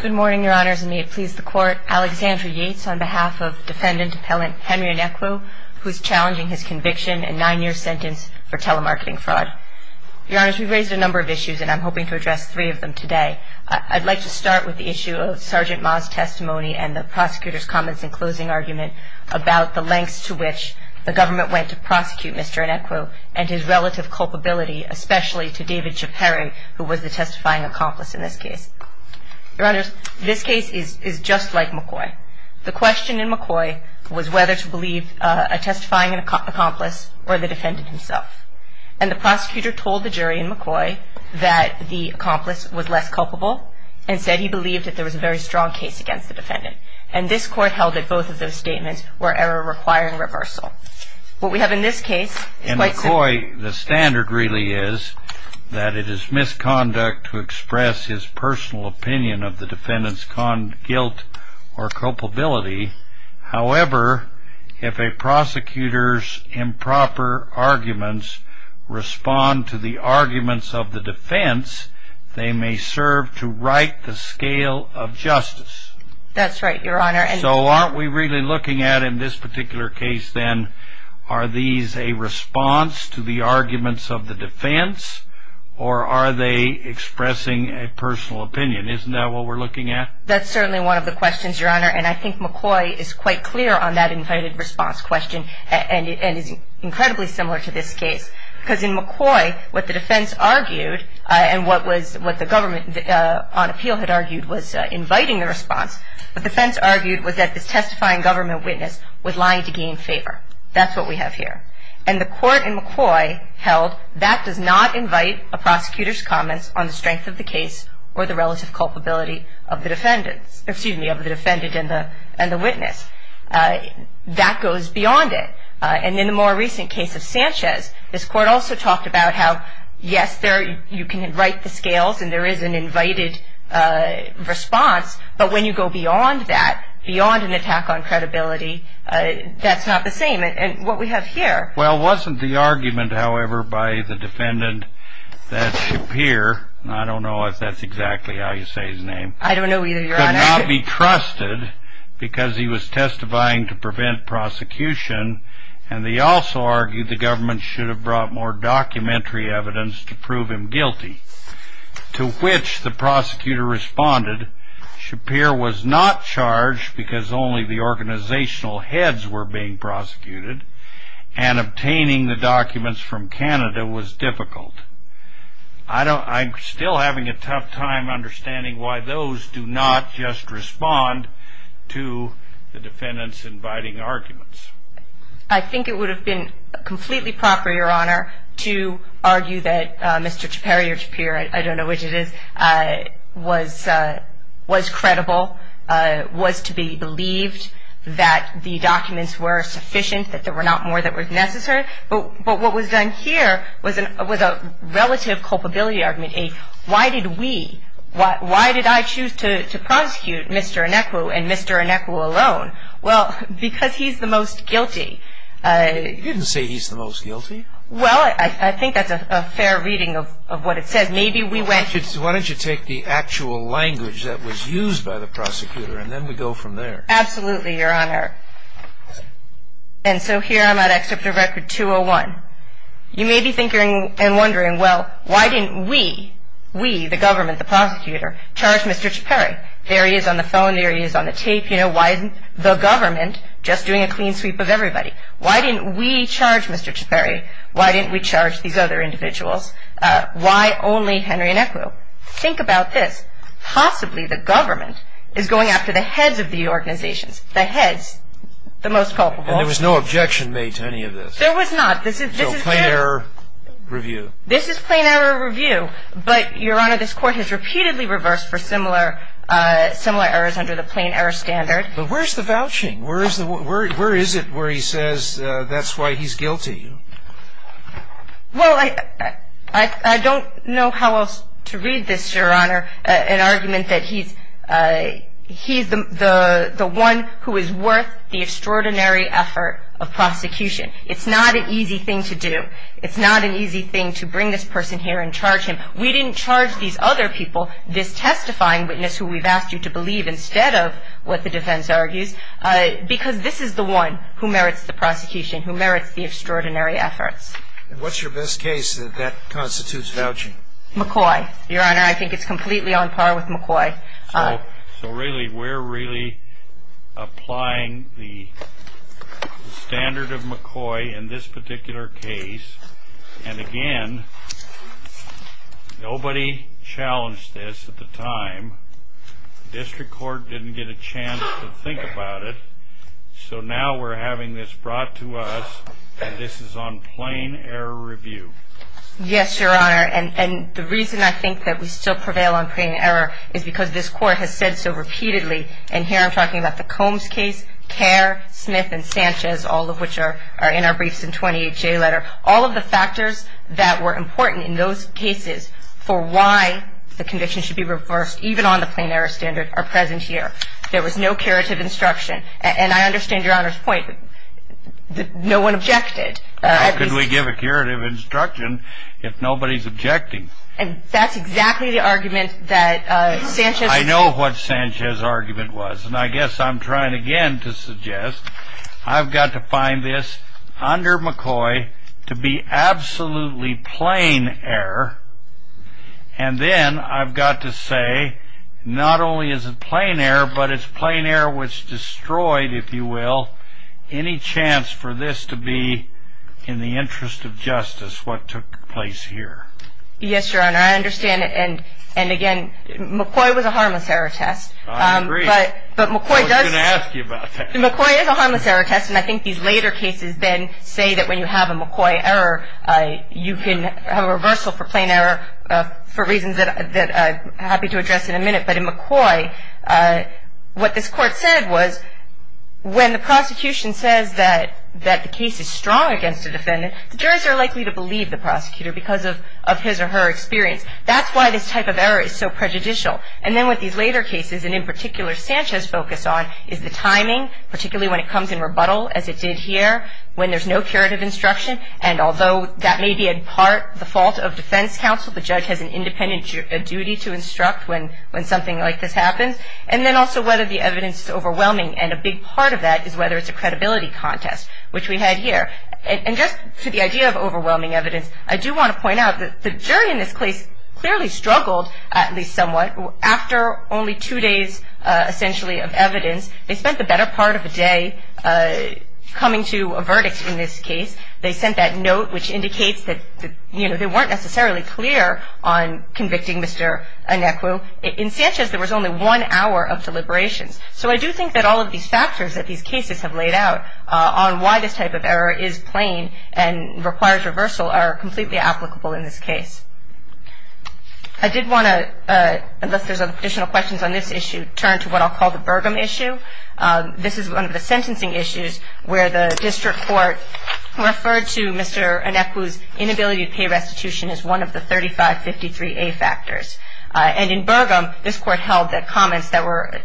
Good morning, your honors, and may it please the court. Alexandra Yates on behalf of defendant appellant Henry Anekwu, who's challenging his conviction and nine-year sentence for telemarketing fraud. Your honors, we've raised a number of issues, and I'm hoping to address three of them today. I'd like to start with the issue of Sergeant Ma's testimony and the prosecutor's comments in closing argument about the lengths to which the government went to prosecute Mr. Anekwu and his relative culpability, especially to David Chaperin, who was the testifying accomplice in this case. Your honors, this case is just like McCoy. The question in McCoy was whether to believe a testifying accomplice or the defendant himself. And the prosecutor told the jury in McCoy that the accomplice was less culpable. Instead, he believed that there was a very strong case against the defendant. And this court held that both of those statements were error requiring reversal. What we have in this case is quite clear. In McCoy, the standard really is that it is misconduct to express his personal opinion of the defendant's guilt or culpability. However, if a prosecutor's improper arguments respond to the arguments of the defense, they may serve to right the scale of justice. That's right, your honor. So aren't we really looking at in this particular case, then, are these a response to the arguments of the defense or are they expressing a personal opinion? Isn't that what we're looking at? That's certainly one of the questions, your honor. And I think McCoy is quite clear on that invited response question and is incredibly similar to this case. Because in McCoy, what the defense argued and what was what the government on appeal had argued was inviting the response. What the defense argued was that this testifying government witness was lying to gain favor. That's what we have here. And the court in McCoy held that does not invite a prosecutor's comments on the strength of the case or the relative culpability of the defendant and the witness. That goes beyond it. And in the more recent case of Sanchez, this court also talked about how, yes, you can right the scales and there is an invited response. But when you go beyond that, beyond an attack on credibility, that's not the same. And what we have here. Well, wasn't the argument, however, by the defendant that Shapir, I don't know if that's exactly how you say his name. I don't know either, your honor. Could not be trusted because he was testifying to prevent prosecution. And they also argued the government should have brought more documentary evidence to prove him guilty. To which the prosecutor responded, Shapir was not charged because only the organizational heads were being prosecuted and obtaining the documents from Canada was difficult. I don't, I'm still having a tough time understanding why those do not just respond to the defendant's inviting arguments. I think it would have been completely proper, your honor, to argue that Mr. Shapir, I don't know which it is, was credible, was to be believed that the documents were sufficient, that there were not more that was necessary. But what was done here was a relative culpability argument. Why did we, why did I choose to prosecute Mr. Inecuo and Mr. Inecuo alone? Well, because he's the most guilty. You didn't say he's the most guilty. Well, I think that's a fair reading of what it says. Maybe we went. Why don't you take the actual language that was used by the prosecutor and then we go from there. Absolutely, your honor. And so here I'm at Excerpt of Record 201. You may be thinking and wondering, well, why didn't we, we, the government, the prosecutor, charge Mr. Shapir? There he is on the phone, there he is on the tape. You know, why isn't the government just doing a clean sweep of everybody? Why didn't we charge Mr. Shapir? Why didn't we charge these other individuals? Why only Henry Inecuo? Think about this. Possibly the government is going after the heads of the organizations, the heads, the most culpable. And there was no objection made to any of this? There was not. This is plain error review. This is plain error review. But, your honor, this court has repeatedly reversed for similar, similar errors under the plain error standard. But where's the vouching? Where is the, where is it where he says that's why he's guilty? Well, I don't know how else to read this, your honor, an argument that he's, he's the one who is worth the extraordinary effort of prosecution. It's not an easy thing to do. It's not an easy thing to bring this person here and charge him. We didn't charge these other people, this testifying witness who we've asked you to believe instead of what the defense argues, because this is the one who merits the prosecution, who merits the extraordinary efforts. And what's your best case that that constitutes vouching? McCoy, your honor. I think it's completely on par with McCoy. So really, we're really applying the standard of McCoy in this particular case. And again, nobody challenged this at the time. District court didn't get a chance to think about it. So now we're having this brought to us. This is on plain error review. Yes, your honor. And the reason I think that we still prevail on plain error is because this court has said so repeatedly. And here I'm talking about the Combs case, Kerr, Smith, and Sanchez, all of which are in our briefs in 28J letter. All of the factors that were important in those cases for why the conviction should be reversed, even on the plain error standard, are present here. There was no curative instruction. And I understand your honor's point that no one objected. How could we give a curative instruction if nobody's objecting? And that's exactly the argument that Sanchez. I know what Sanchez's argument was. And I guess I'm trying again to suggest I've got to find this under McCoy to be absolutely plain error. And then I've got to say, not only is it plain error, but it's plain error which destroyed, if you will, any chance for this to be, in the interest of justice, what took place here. Yes, your honor. I understand it. And again, McCoy was a harmless error test. I agree. But McCoy does. I was going to ask you about that. McCoy is a harmless error test. And I think these later cases then say that when you have a McCoy error, you can have a reversal for plain error for reasons that I'm happy to address in a minute. But in McCoy, what this court said was, when the prosecution says that the case is strong against a defendant, the jurors are likely to believe the prosecutor because of his or her experience. That's why this type of error is so prejudicial. And then with these later cases, and in particular Sanchez focused on, is the timing, particularly when it comes in rebuttal, as it did here, when there's no curative instruction. And although that may be in part the fault of defense counsel, the judge has an independent duty to instruct when something like this happens. And then also whether the evidence is overwhelming. And a big part of that is whether it's a credibility contest, which we had here. And just to the idea of overwhelming evidence, I do want to point out that the jury in this case clearly struggled, at least somewhat, after only two days, essentially, of evidence. They spent the better part of a day coming to a verdict in this case. They sent that note, which indicates that, you know, they weren't necessarily clear on convicting Mr. Anecu. In Sanchez, there was only one hour of deliberations. So I do think that all of these factors that these cases have laid out on why this type of error is plain and requires reversal are completely applicable in this case. I did want to, unless there's additional questions on this issue, turn to what I'll call the Burgum issue. This is one of the sentencing issues where the district court referred to Mr. Anecu's inability to pay restitution as one of the 3553A factors. And in Burgum, this court held that comments that were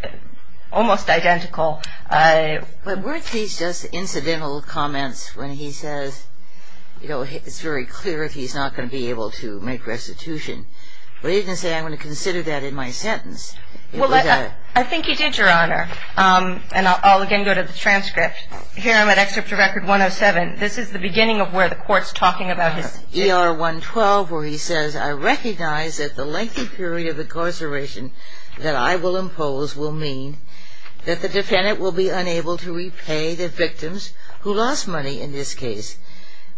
almost identical. But weren't these just incidental comments when he says, you know, it's very clear if he's not going to be able to make restitution? But he didn't say, I'm going to consider that in my sentence. And I'll again go to the transcript. Here I'm at Excerpt to Record 107. This is the beginning of where the court's talking about his E.R. 112, where he says, I recognize that the lengthy period of incarceration that I will impose will mean that the defendant will be unable to repay the victims who lost money in this case.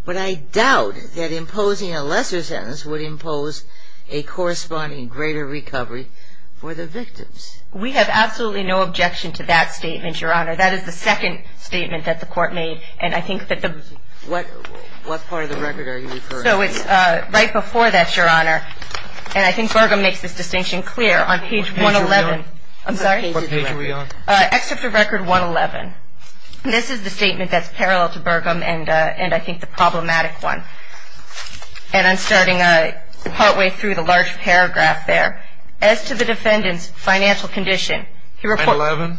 But I doubt that imposing a lesser sentence would impose a corresponding greater recovery for the victims. We have absolutely no objection to that statement, Your Honor. That is the second statement that the court made. And I think that the what part of the record are you referring to? So it's right before that, Your Honor. And I think Burgum makes this distinction clear on page 111. I'm sorry, what page are we on? Excerpt to Record 111. This is the statement that's parallel to Burgum and I think the problematic one. And I'm starting partway through the large paragraph there. As to the defendant's financial condition, he reports that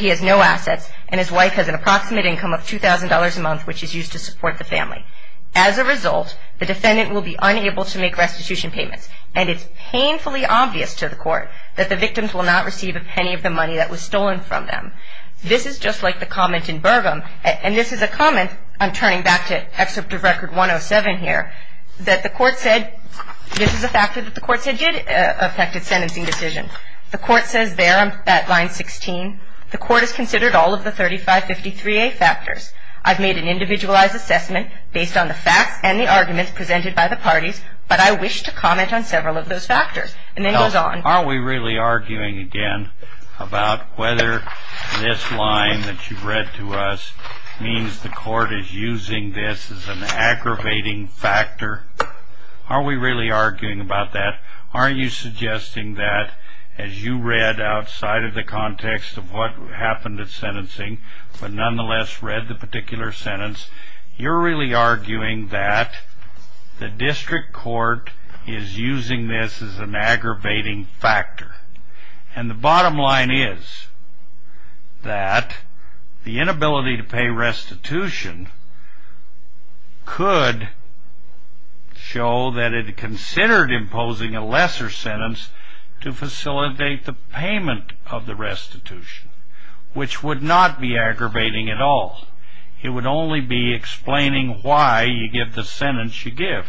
he has no assets and his wife has an approximate income of $2,000 a month, which is used to support the family. As a result, the defendant will be unable to make restitution payments. And it's painfully obvious to the court that the victims will not receive a penny of the money that was stolen from them. This is just like the comment in Burgum. And this is a comment, I'm turning back to Excerpt of Record 107 here, that the court said, this is a factor that the court said did affect his sentencing decision. The court says there on that line 16, the court has considered all of the 3553A factors. I've made an individualized assessment based on the facts and the arguments presented by the parties, but I wish to comment on several of those factors. Are we really arguing again about whether this line that you've read to us means the court is using this as an aggravating factor? Are we really arguing about that? Are you suggesting that, as you read outside of the context of what happened at sentencing, but nonetheless read the particular sentence, you're really arguing that the district court is using this as an aggravating factor. And the bottom line is that the inability to pay restitution could show that it considered imposing a lesser sentence to facilitate the payment of the restitution, which would not be aggravating at all. It would only be explaining why you give the sentence you give.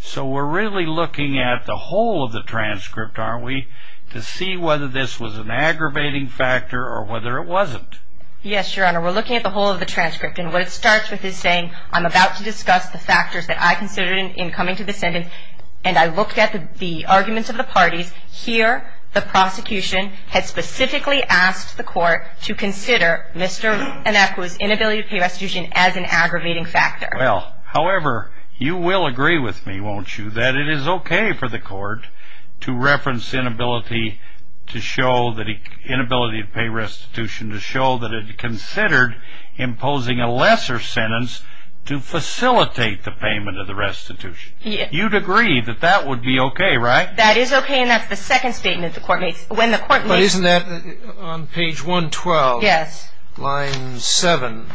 So we're really looking at the whole of the transcript, aren't we, to see whether this was an aggravating factor or whether it wasn't. Yes, Your Honor, we're looking at the whole of the transcript. And what it starts with is saying, I'm about to discuss the factors that I considered in coming to the sentence, and I looked at the arguments of the parties. Here, the prosecution had specifically asked the court to consider Mr. Anakua's inability to pay restitution as an aggravating factor. Well, however, you will agree with me, won't you, that it is okay for the court to reference inability to pay restitution to show that it considered imposing a lesser sentence to facilitate the payment of the restitution. You'd agree that that would be okay, right? That is okay, and that's the second statement the court makes when the court makes... But isn't that on page 112, line 7,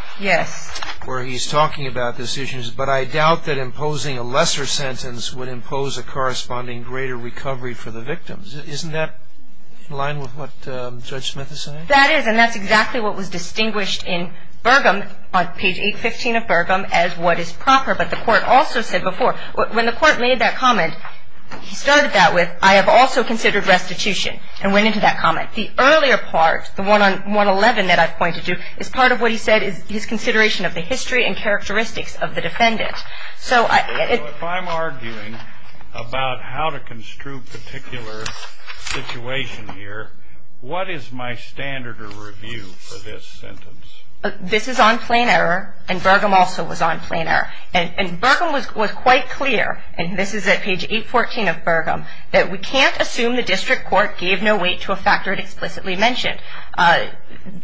where he's talking about this issue, but I doubt that imposing a lesser sentence would impose a corresponding greater recovery for the victims. Isn't that in line with what Judge Smith is saying? That is, and that's exactly what was distinguished in Burgum, on page 815 of Burgum, as what is proper. But the court also said before, when the court made that comment, he started that with, I have also considered restitution, and went into that comment. The earlier part, the one on 111 that I've pointed to, is part of what he said is his consideration of the history and characteristics of the defendant. So, if I'm arguing about how to construe a particular situation here, what is my standard of review for this sentence? This is on plain error, and Burgum also was on plain error. And Burgum was quite clear, and this is at page 814 of Burgum, that we can't assume the district court gave no weight to a factor it explicitly mentioned.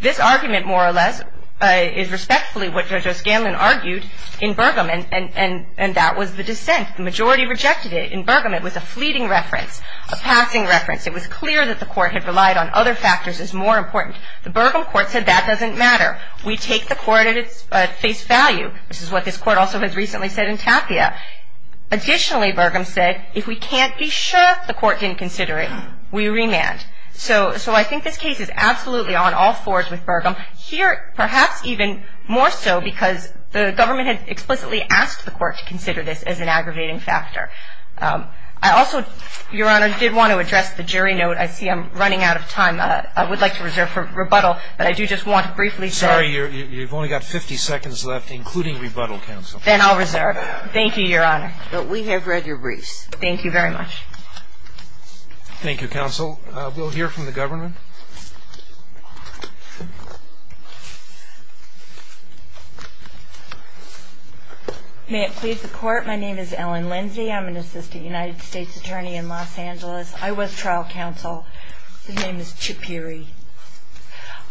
This argument, more or less, is respectfully what Judge O'Scanlan argued in Burgum, and that was the dissent. The majority rejected it. In Burgum, it was a fleeting reference, a passing reference. It was clear that the court had relied on other factors as more important. The Burgum court said that doesn't matter. We take the court at its face value. This is what this court also has recently said in Tapia. Additionally, Burgum said, if we can't be sure the court didn't consider it, we remand. So, I think this case is absolutely on all fours with Burgum. Here, perhaps even more so, because the government had explicitly asked the court to consider this as an aggravating factor. I also, Your Honor, did want to address the jury note. I see I'm running out of time. I would like to reserve for rebuttal, but I do just want to briefly say- Sorry, you've only got 50 seconds left, including rebuttal, Counsel. Then I'll reserve. Thank you, Your Honor. But we have read your briefs. Thank you very much. Thank you, Counsel. We'll hear from the government. May it please the court, my name is Ellen Lindsey. I'm an assistant United States attorney in Los Angeles. I was trial counsel. My name is Chip Peary.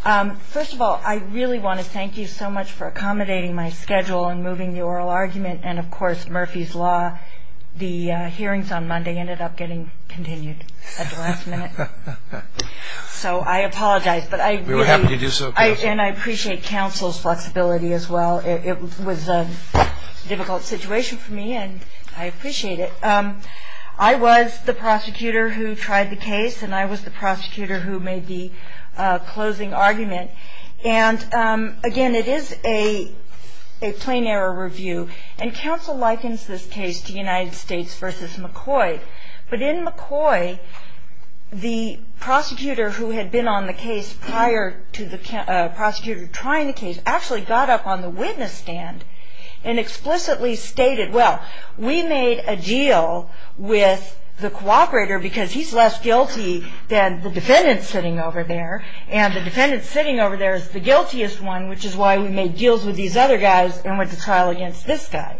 First of all, I really want to thank you so much for accommodating my schedule and moving the oral argument. And, of course, Murphy's Law, the hearings on Monday ended up getting continued at the last minute. So, I apologize. But I really- We were happy to do so, Counsel. And I appreciate Counsel's flexibility as well. It was a difficult situation for me, and I appreciate it. I was the prosecutor who tried the case, and I was the prosecutor who made the closing argument. And, again, it is a plain error review. And Counsel likens this case to United States v. McCoy. But in McCoy, the prosecutor who had been on the case prior to the prosecutor trying the case actually got up on the witness stand and explicitly stated, well, we made a deal with the cooperator because he's less guilty than the defendant sitting over there. And the defendant sitting over there is the guiltiest one, which is why we made deals with these other guys and went to trial against this guy.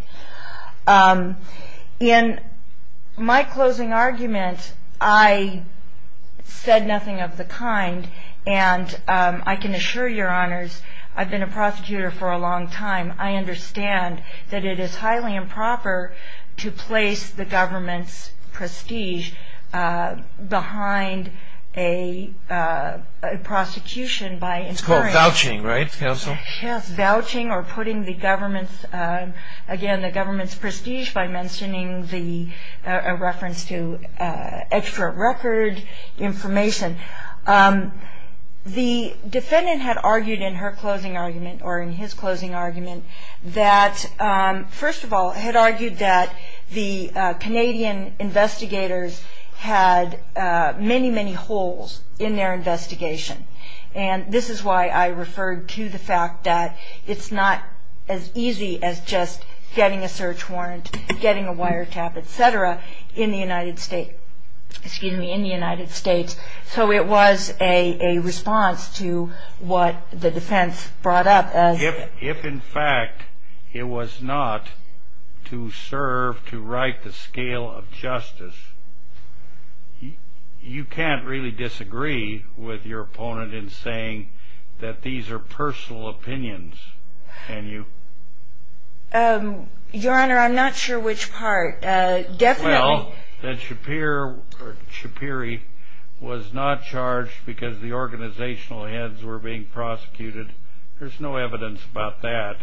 In my closing argument, I said nothing of the kind. And I can assure your honors, I've been a prosecutor for a long time. I understand that it is highly improper to place the government's prestige behind a prosecution by- It's called vouching, right, Counsel? Yes. Vouching or putting the government's, again, the government's prestige by mentioning a reference to extra record information. The defendant had argued in her closing argument, or in his closing argument, that, first of all, had argued that the Canadian investigators had many, many holes in their investigation. And this is why I referred to the fact that it's not as easy as just getting a search warrant, getting a wiretap, et cetera, in the United States. So it was a response to what the defense brought up as- If, in fact, it was not to serve to right the scale of justice, you can't really disagree with your opponent in saying that these are personal opinions, can you? Your honor, I'm not sure which part. Well, that Shapir, or Shapiri, was not charged because the organizational heads were being prosecuted. There's no evidence about that.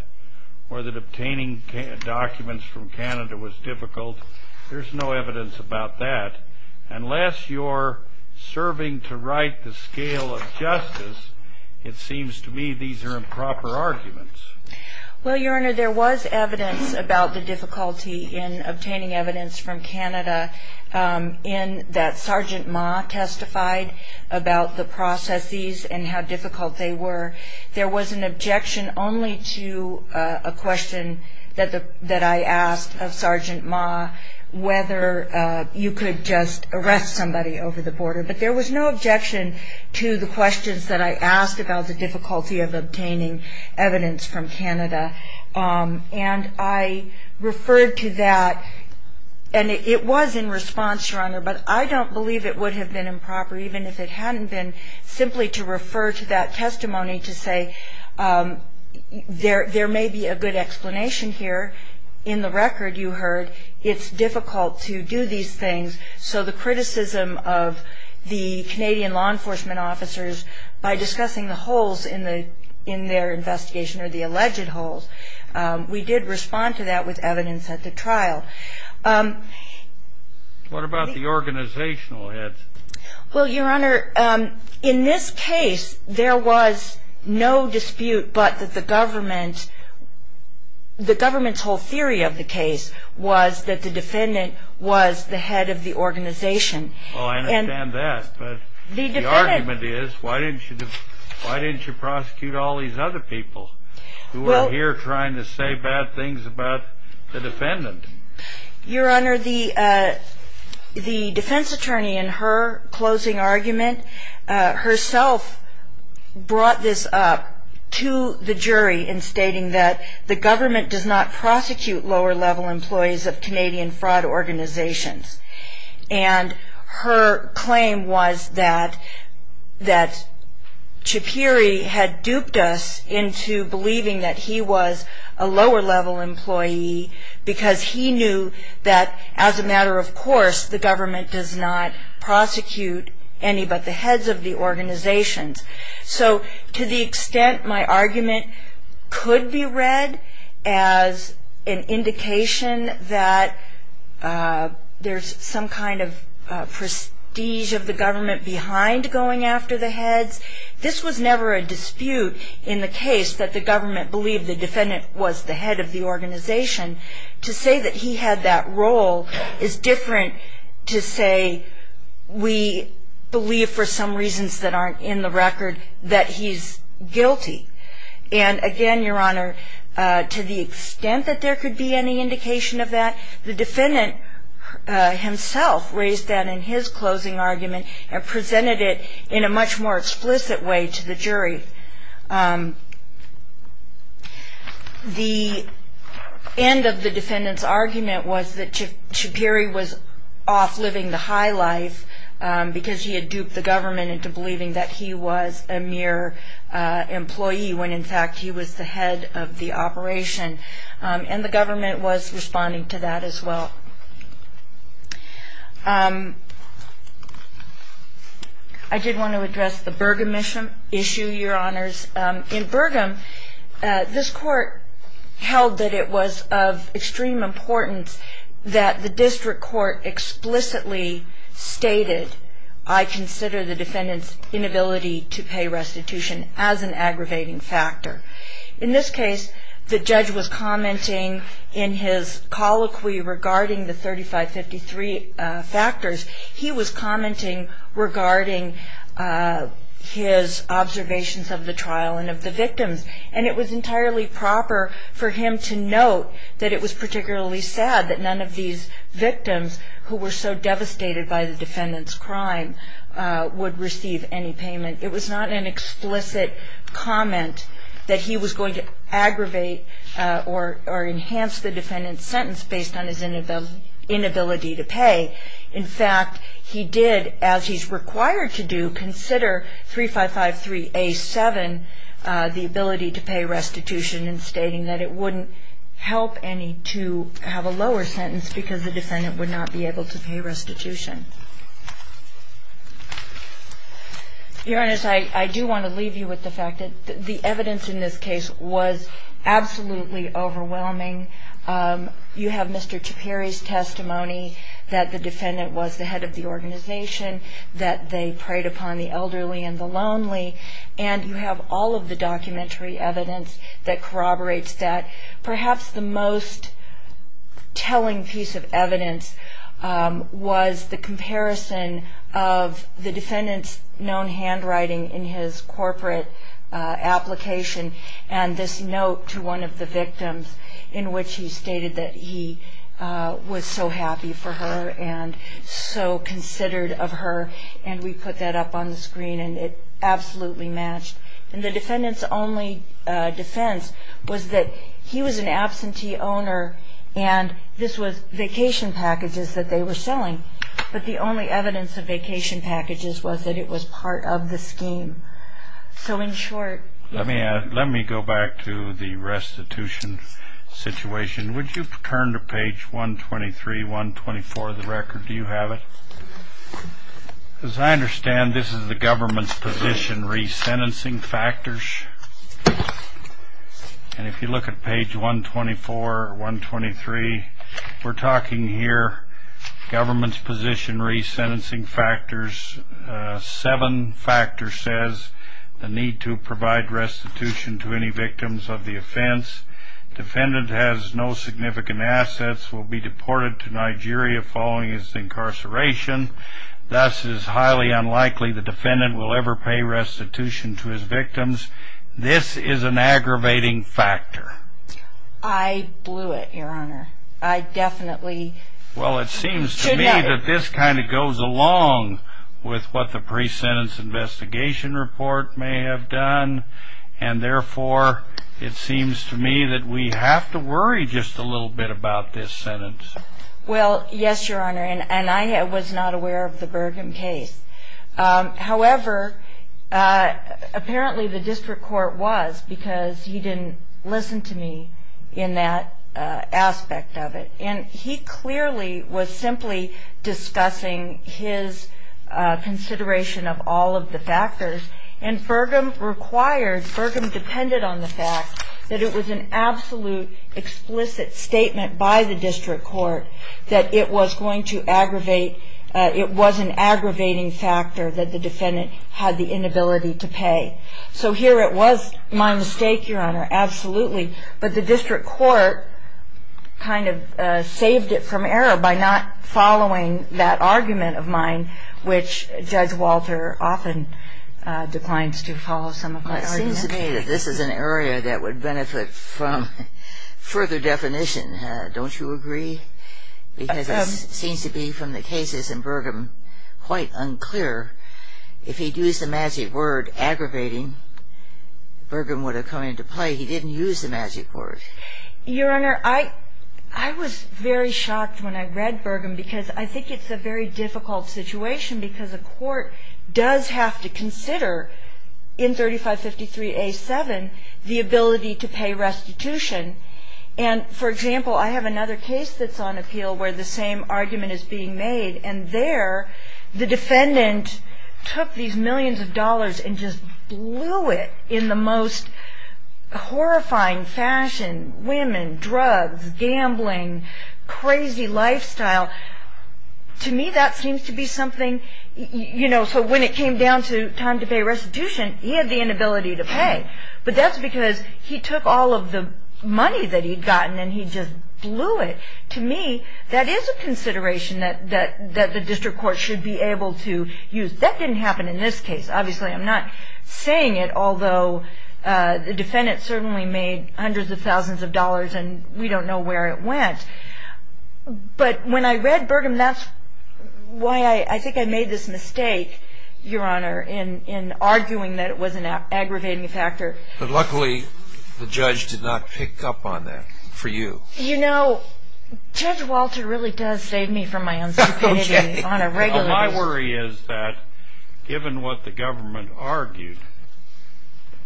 Or that obtaining documents from Canada was difficult. There's no evidence about that. Unless you're serving to right the scale of justice, it seems to me these are improper arguments. Well, your honor, there was evidence about the difficulty in obtaining evidence from Canada in that Sergeant Ma testified about the processes and how difficult they were. There was an objection only to a question that I asked of Sergeant Ma, whether you could just arrest somebody over the border. But there was no objection to the questions that I asked about the difficulty of obtaining evidence from Canada. And I referred to that, and it was in response, your honor, but I don't believe it would have been improper, even if it hadn't been, simply to refer to that testimony to say, there may be a good explanation here. In the record you heard, it's difficult to do these things. So the criticism of the Canadian law enforcement officers by discussing the holes in their investigation, or the alleged holes, we did respond to that with evidence at the trial. What about the organizational heads? Well, your honor, in this case, there was no dispute but that the government's whole theory of the case was that the defendant was the head of the organization. Well, I understand that, but the argument is, why didn't you prosecute all these other people who are here trying to say bad things about the defendant? Your honor, the defense attorney in her closing argument herself brought this up to the jury in stating that the government does not prosecute lower-level employees of Canadian fraud organizations. And her claim was that Chapiri had duped us into believing that he was a lower-level employee because he knew that, as a matter of course, the government does not prosecute any but the heads of the organizations. So to the extent my argument could be read as an indication that there's some kind of prestige of the government behind going after the heads, this was never a dispute in the case that the government believed the defendant was the head of the organization. To say that he had that role is different to say we believe, for some reasons that aren't in the record, that he's guilty. And again, your honor, to the extent that there could be any indication of that, the defendant himself raised that in his closing argument and presented it in a much more explicit way to the jury. The end of the defendant's argument was that Chapiri was off living the high life because he had duped the government into believing that he was a mere employee when in fact he was the head of the operation. And the government was responding to that as well. I did want to address the Burgum issue, your honors. In Burgum, this court held that it was of extreme importance that the district court explicitly stated, I consider the defendant's inability to pay restitution as an aggravating factor. In this case, the judge was commenting in his colloquy regarding the 3553 factors, he was commenting regarding his observations of the trial and of the victims. And it was entirely proper for him to note that it was particularly sad that none of these victims who were so devastated by the defendant's crime would receive any payment. It was not an explicit comment that he was going to aggravate or enhance the defendant's sentence based on his inability to pay. In fact, he did, as he's required to do, consider 3553A7, the ability to pay restitution and stating that it wouldn't help any to have a lower sentence because the defendant would not be able to pay restitution. Your honors, I do want to leave you with the fact that the evidence in this case was absolutely overwhelming. You have Mr. Ciperi's testimony that the defendant was the head of the organization, that they preyed upon the elderly and the lonely, and you have all of the documentary evidence that corroborates that. Perhaps the most telling piece of evidence was the comparison of the defendant's known handwriting in his corporate application and this note to one of the victims in which he stated that he was so happy for her and so considered of her, and we put that up on the screen, and it absolutely matched. And the defendant's only defense was that he was an absentee owner and this was vacation packages that they were selling, but the only evidence of vacation packages was that it was part of the scheme. So in short. Let me go back to the restitution situation. Would you turn to page 123, 124 of the record? Do you have it? As I understand, this is the government's position re-sentencing factors. And if you look at page 124, 123, we're talking here government's position re-sentencing factors. Seven factors says the need to provide restitution to any victims of the offense. Defendant has no significant assets, will be deported to Nigeria following his incarceration. Thus, it is highly unlikely the defendant will ever pay restitution to his victims. This is an aggravating factor. I blew it, Your Honor. I definitely should not have. Well, it seems to me that this kind of goes along with what the pre-sentence investigation report may have done, and therefore, it seems to me that we have to worry just a little bit about this sentence. Well, yes, Your Honor, and I was not aware of the Burgum case. However, apparently the district court was because he didn't listen to me in that aspect of it. And he clearly was simply discussing his consideration of all of the factors. And Burgum required, Burgum depended on the fact that it was an absolute explicit statement by the district court that it was going to aggravate, it was an aggravating factor that the defendant had the inability to pay. So here it was my mistake, Your Honor, absolutely. But the district court kind of saved it from error by not following that argument of mine, which Judge Walter often declines to follow some of my arguments. Well, it seems to me that this is an area that would benefit from further definition. Don't you agree? Because it seems to be from the cases in Burgum quite unclear. If he'd used the magic word aggravating, Burgum would have come into play. He didn't use the magic word. Your Honor, I was very shocked when I read Burgum because I think it's a very difficult situation because a court does have to consider in 3553A7 the ability to pay restitution. And for example, I have another case that's on appeal where the same argument is being made. And there the defendant took these millions of dollars and just blew it in the most horrifying fashion, women, drugs, gambling, crazy lifestyle. To me, that seems to be something, you know, so when it came down to time to pay restitution, he had the inability to pay. But that's because he took all of the money that he'd gotten and he just blew it. To me, that is a consideration that the district court should be able to use. That didn't happen in this case. Obviously, I'm not saying it, although the defendant certainly made hundreds of thousands of dollars and we don't know where it went. But when I read Burgum, that's why I think I made this mistake, Your Honor, in arguing that it was an aggravating factor. But luckily, the judge did not pick up on that for you. You know, Judge Walter really does save me from my own stupidity on a regular basis. My question is that, given what the government argued,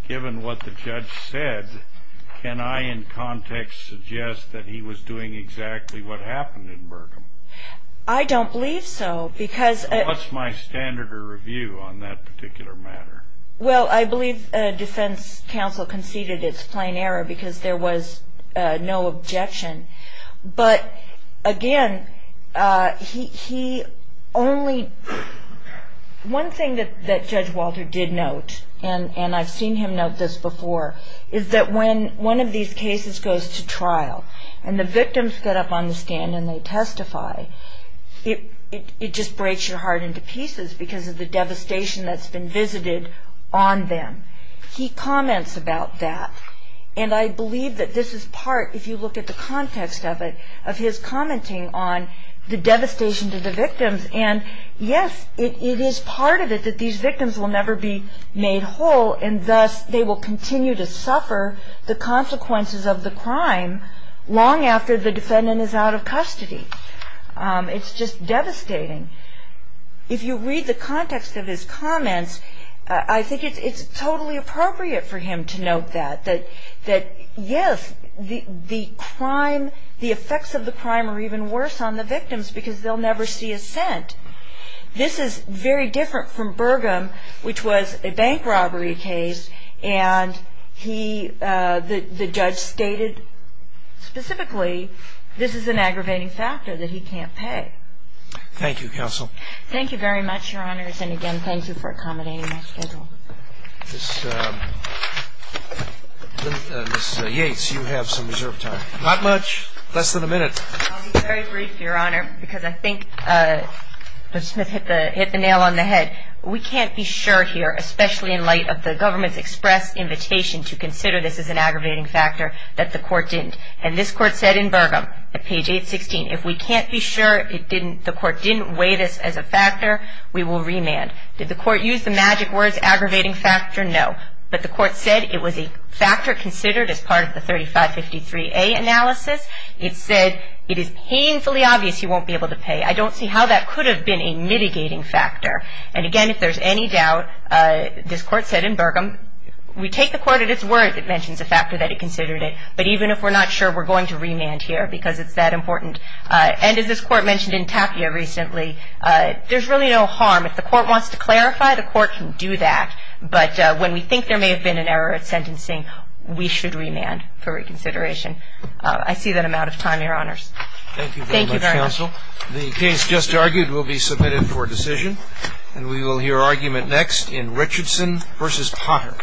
given what the judge said, can I in context suggest that he was doing exactly what happened in Burgum? I don't believe so, because. So what's my standard of review on that particular matter? Well, I believe defense counsel conceded it's plain error because there was no objection. But again, he only. One thing that Judge Walter did note, and I've seen him note this before, is that when one of these cases goes to trial and the victims get up on the stand and they testify, it just breaks your heart into pieces because of the devastation that's been visited on them. He comments about that. And I believe that this is part, if you look at the context of it, of his commenting on the devastation to the victims. And yes, it is part of it that these victims will never be made whole, and thus they will continue to suffer the consequences of the crime long after the defendant is out of custody. It's just devastating. If you read the context of his comments, I think it's totally appropriate for him to note that, yes, the crime, the effects of the crime are even worse on the victims because they'll never see assent. This is very different from Burgum, which was a bank robbery case, and the judge stated specifically this is an aggravating factor that he can't pay. Thank you, counsel. Thank you very much, Your Honors. And again, thank you for accommodating my schedule. Ms. Yates, you have some reserved time. Not much, less than a minute. I'll be very brief, Your Honor, because I think Mr. Smith hit the nail on the head. We can't be sure here, especially in light of the government's express invitation to consider this as an aggravating factor, that the court didn't. And this court said in Burgum, at page 816, if we can't be sure the court didn't weigh this as a factor, we will remand. Did the court use the magic words aggravating factor? No. But the court said it was a factor considered as part of the 3553A analysis. It said it is painfully obvious he won't be able to pay. I don't see how that could have been a mitigating factor. And again, if there's any doubt, this court said in Burgum, we take the court at its word if it mentions a factor that it considered it. But even if we're not sure, we're going to remand here because it's that important. And as this court mentioned in Tapia recently, there's really no harm. If the court wants to clarify, the court can do that. But when we think there may have been an error at sentencing, we should remand for reconsideration. I see that I'm out of time, Your Honors. Thank you very much, Counsel. The case just argued will be submitted for decision. And we will hear argument next in Richardson v. Potter.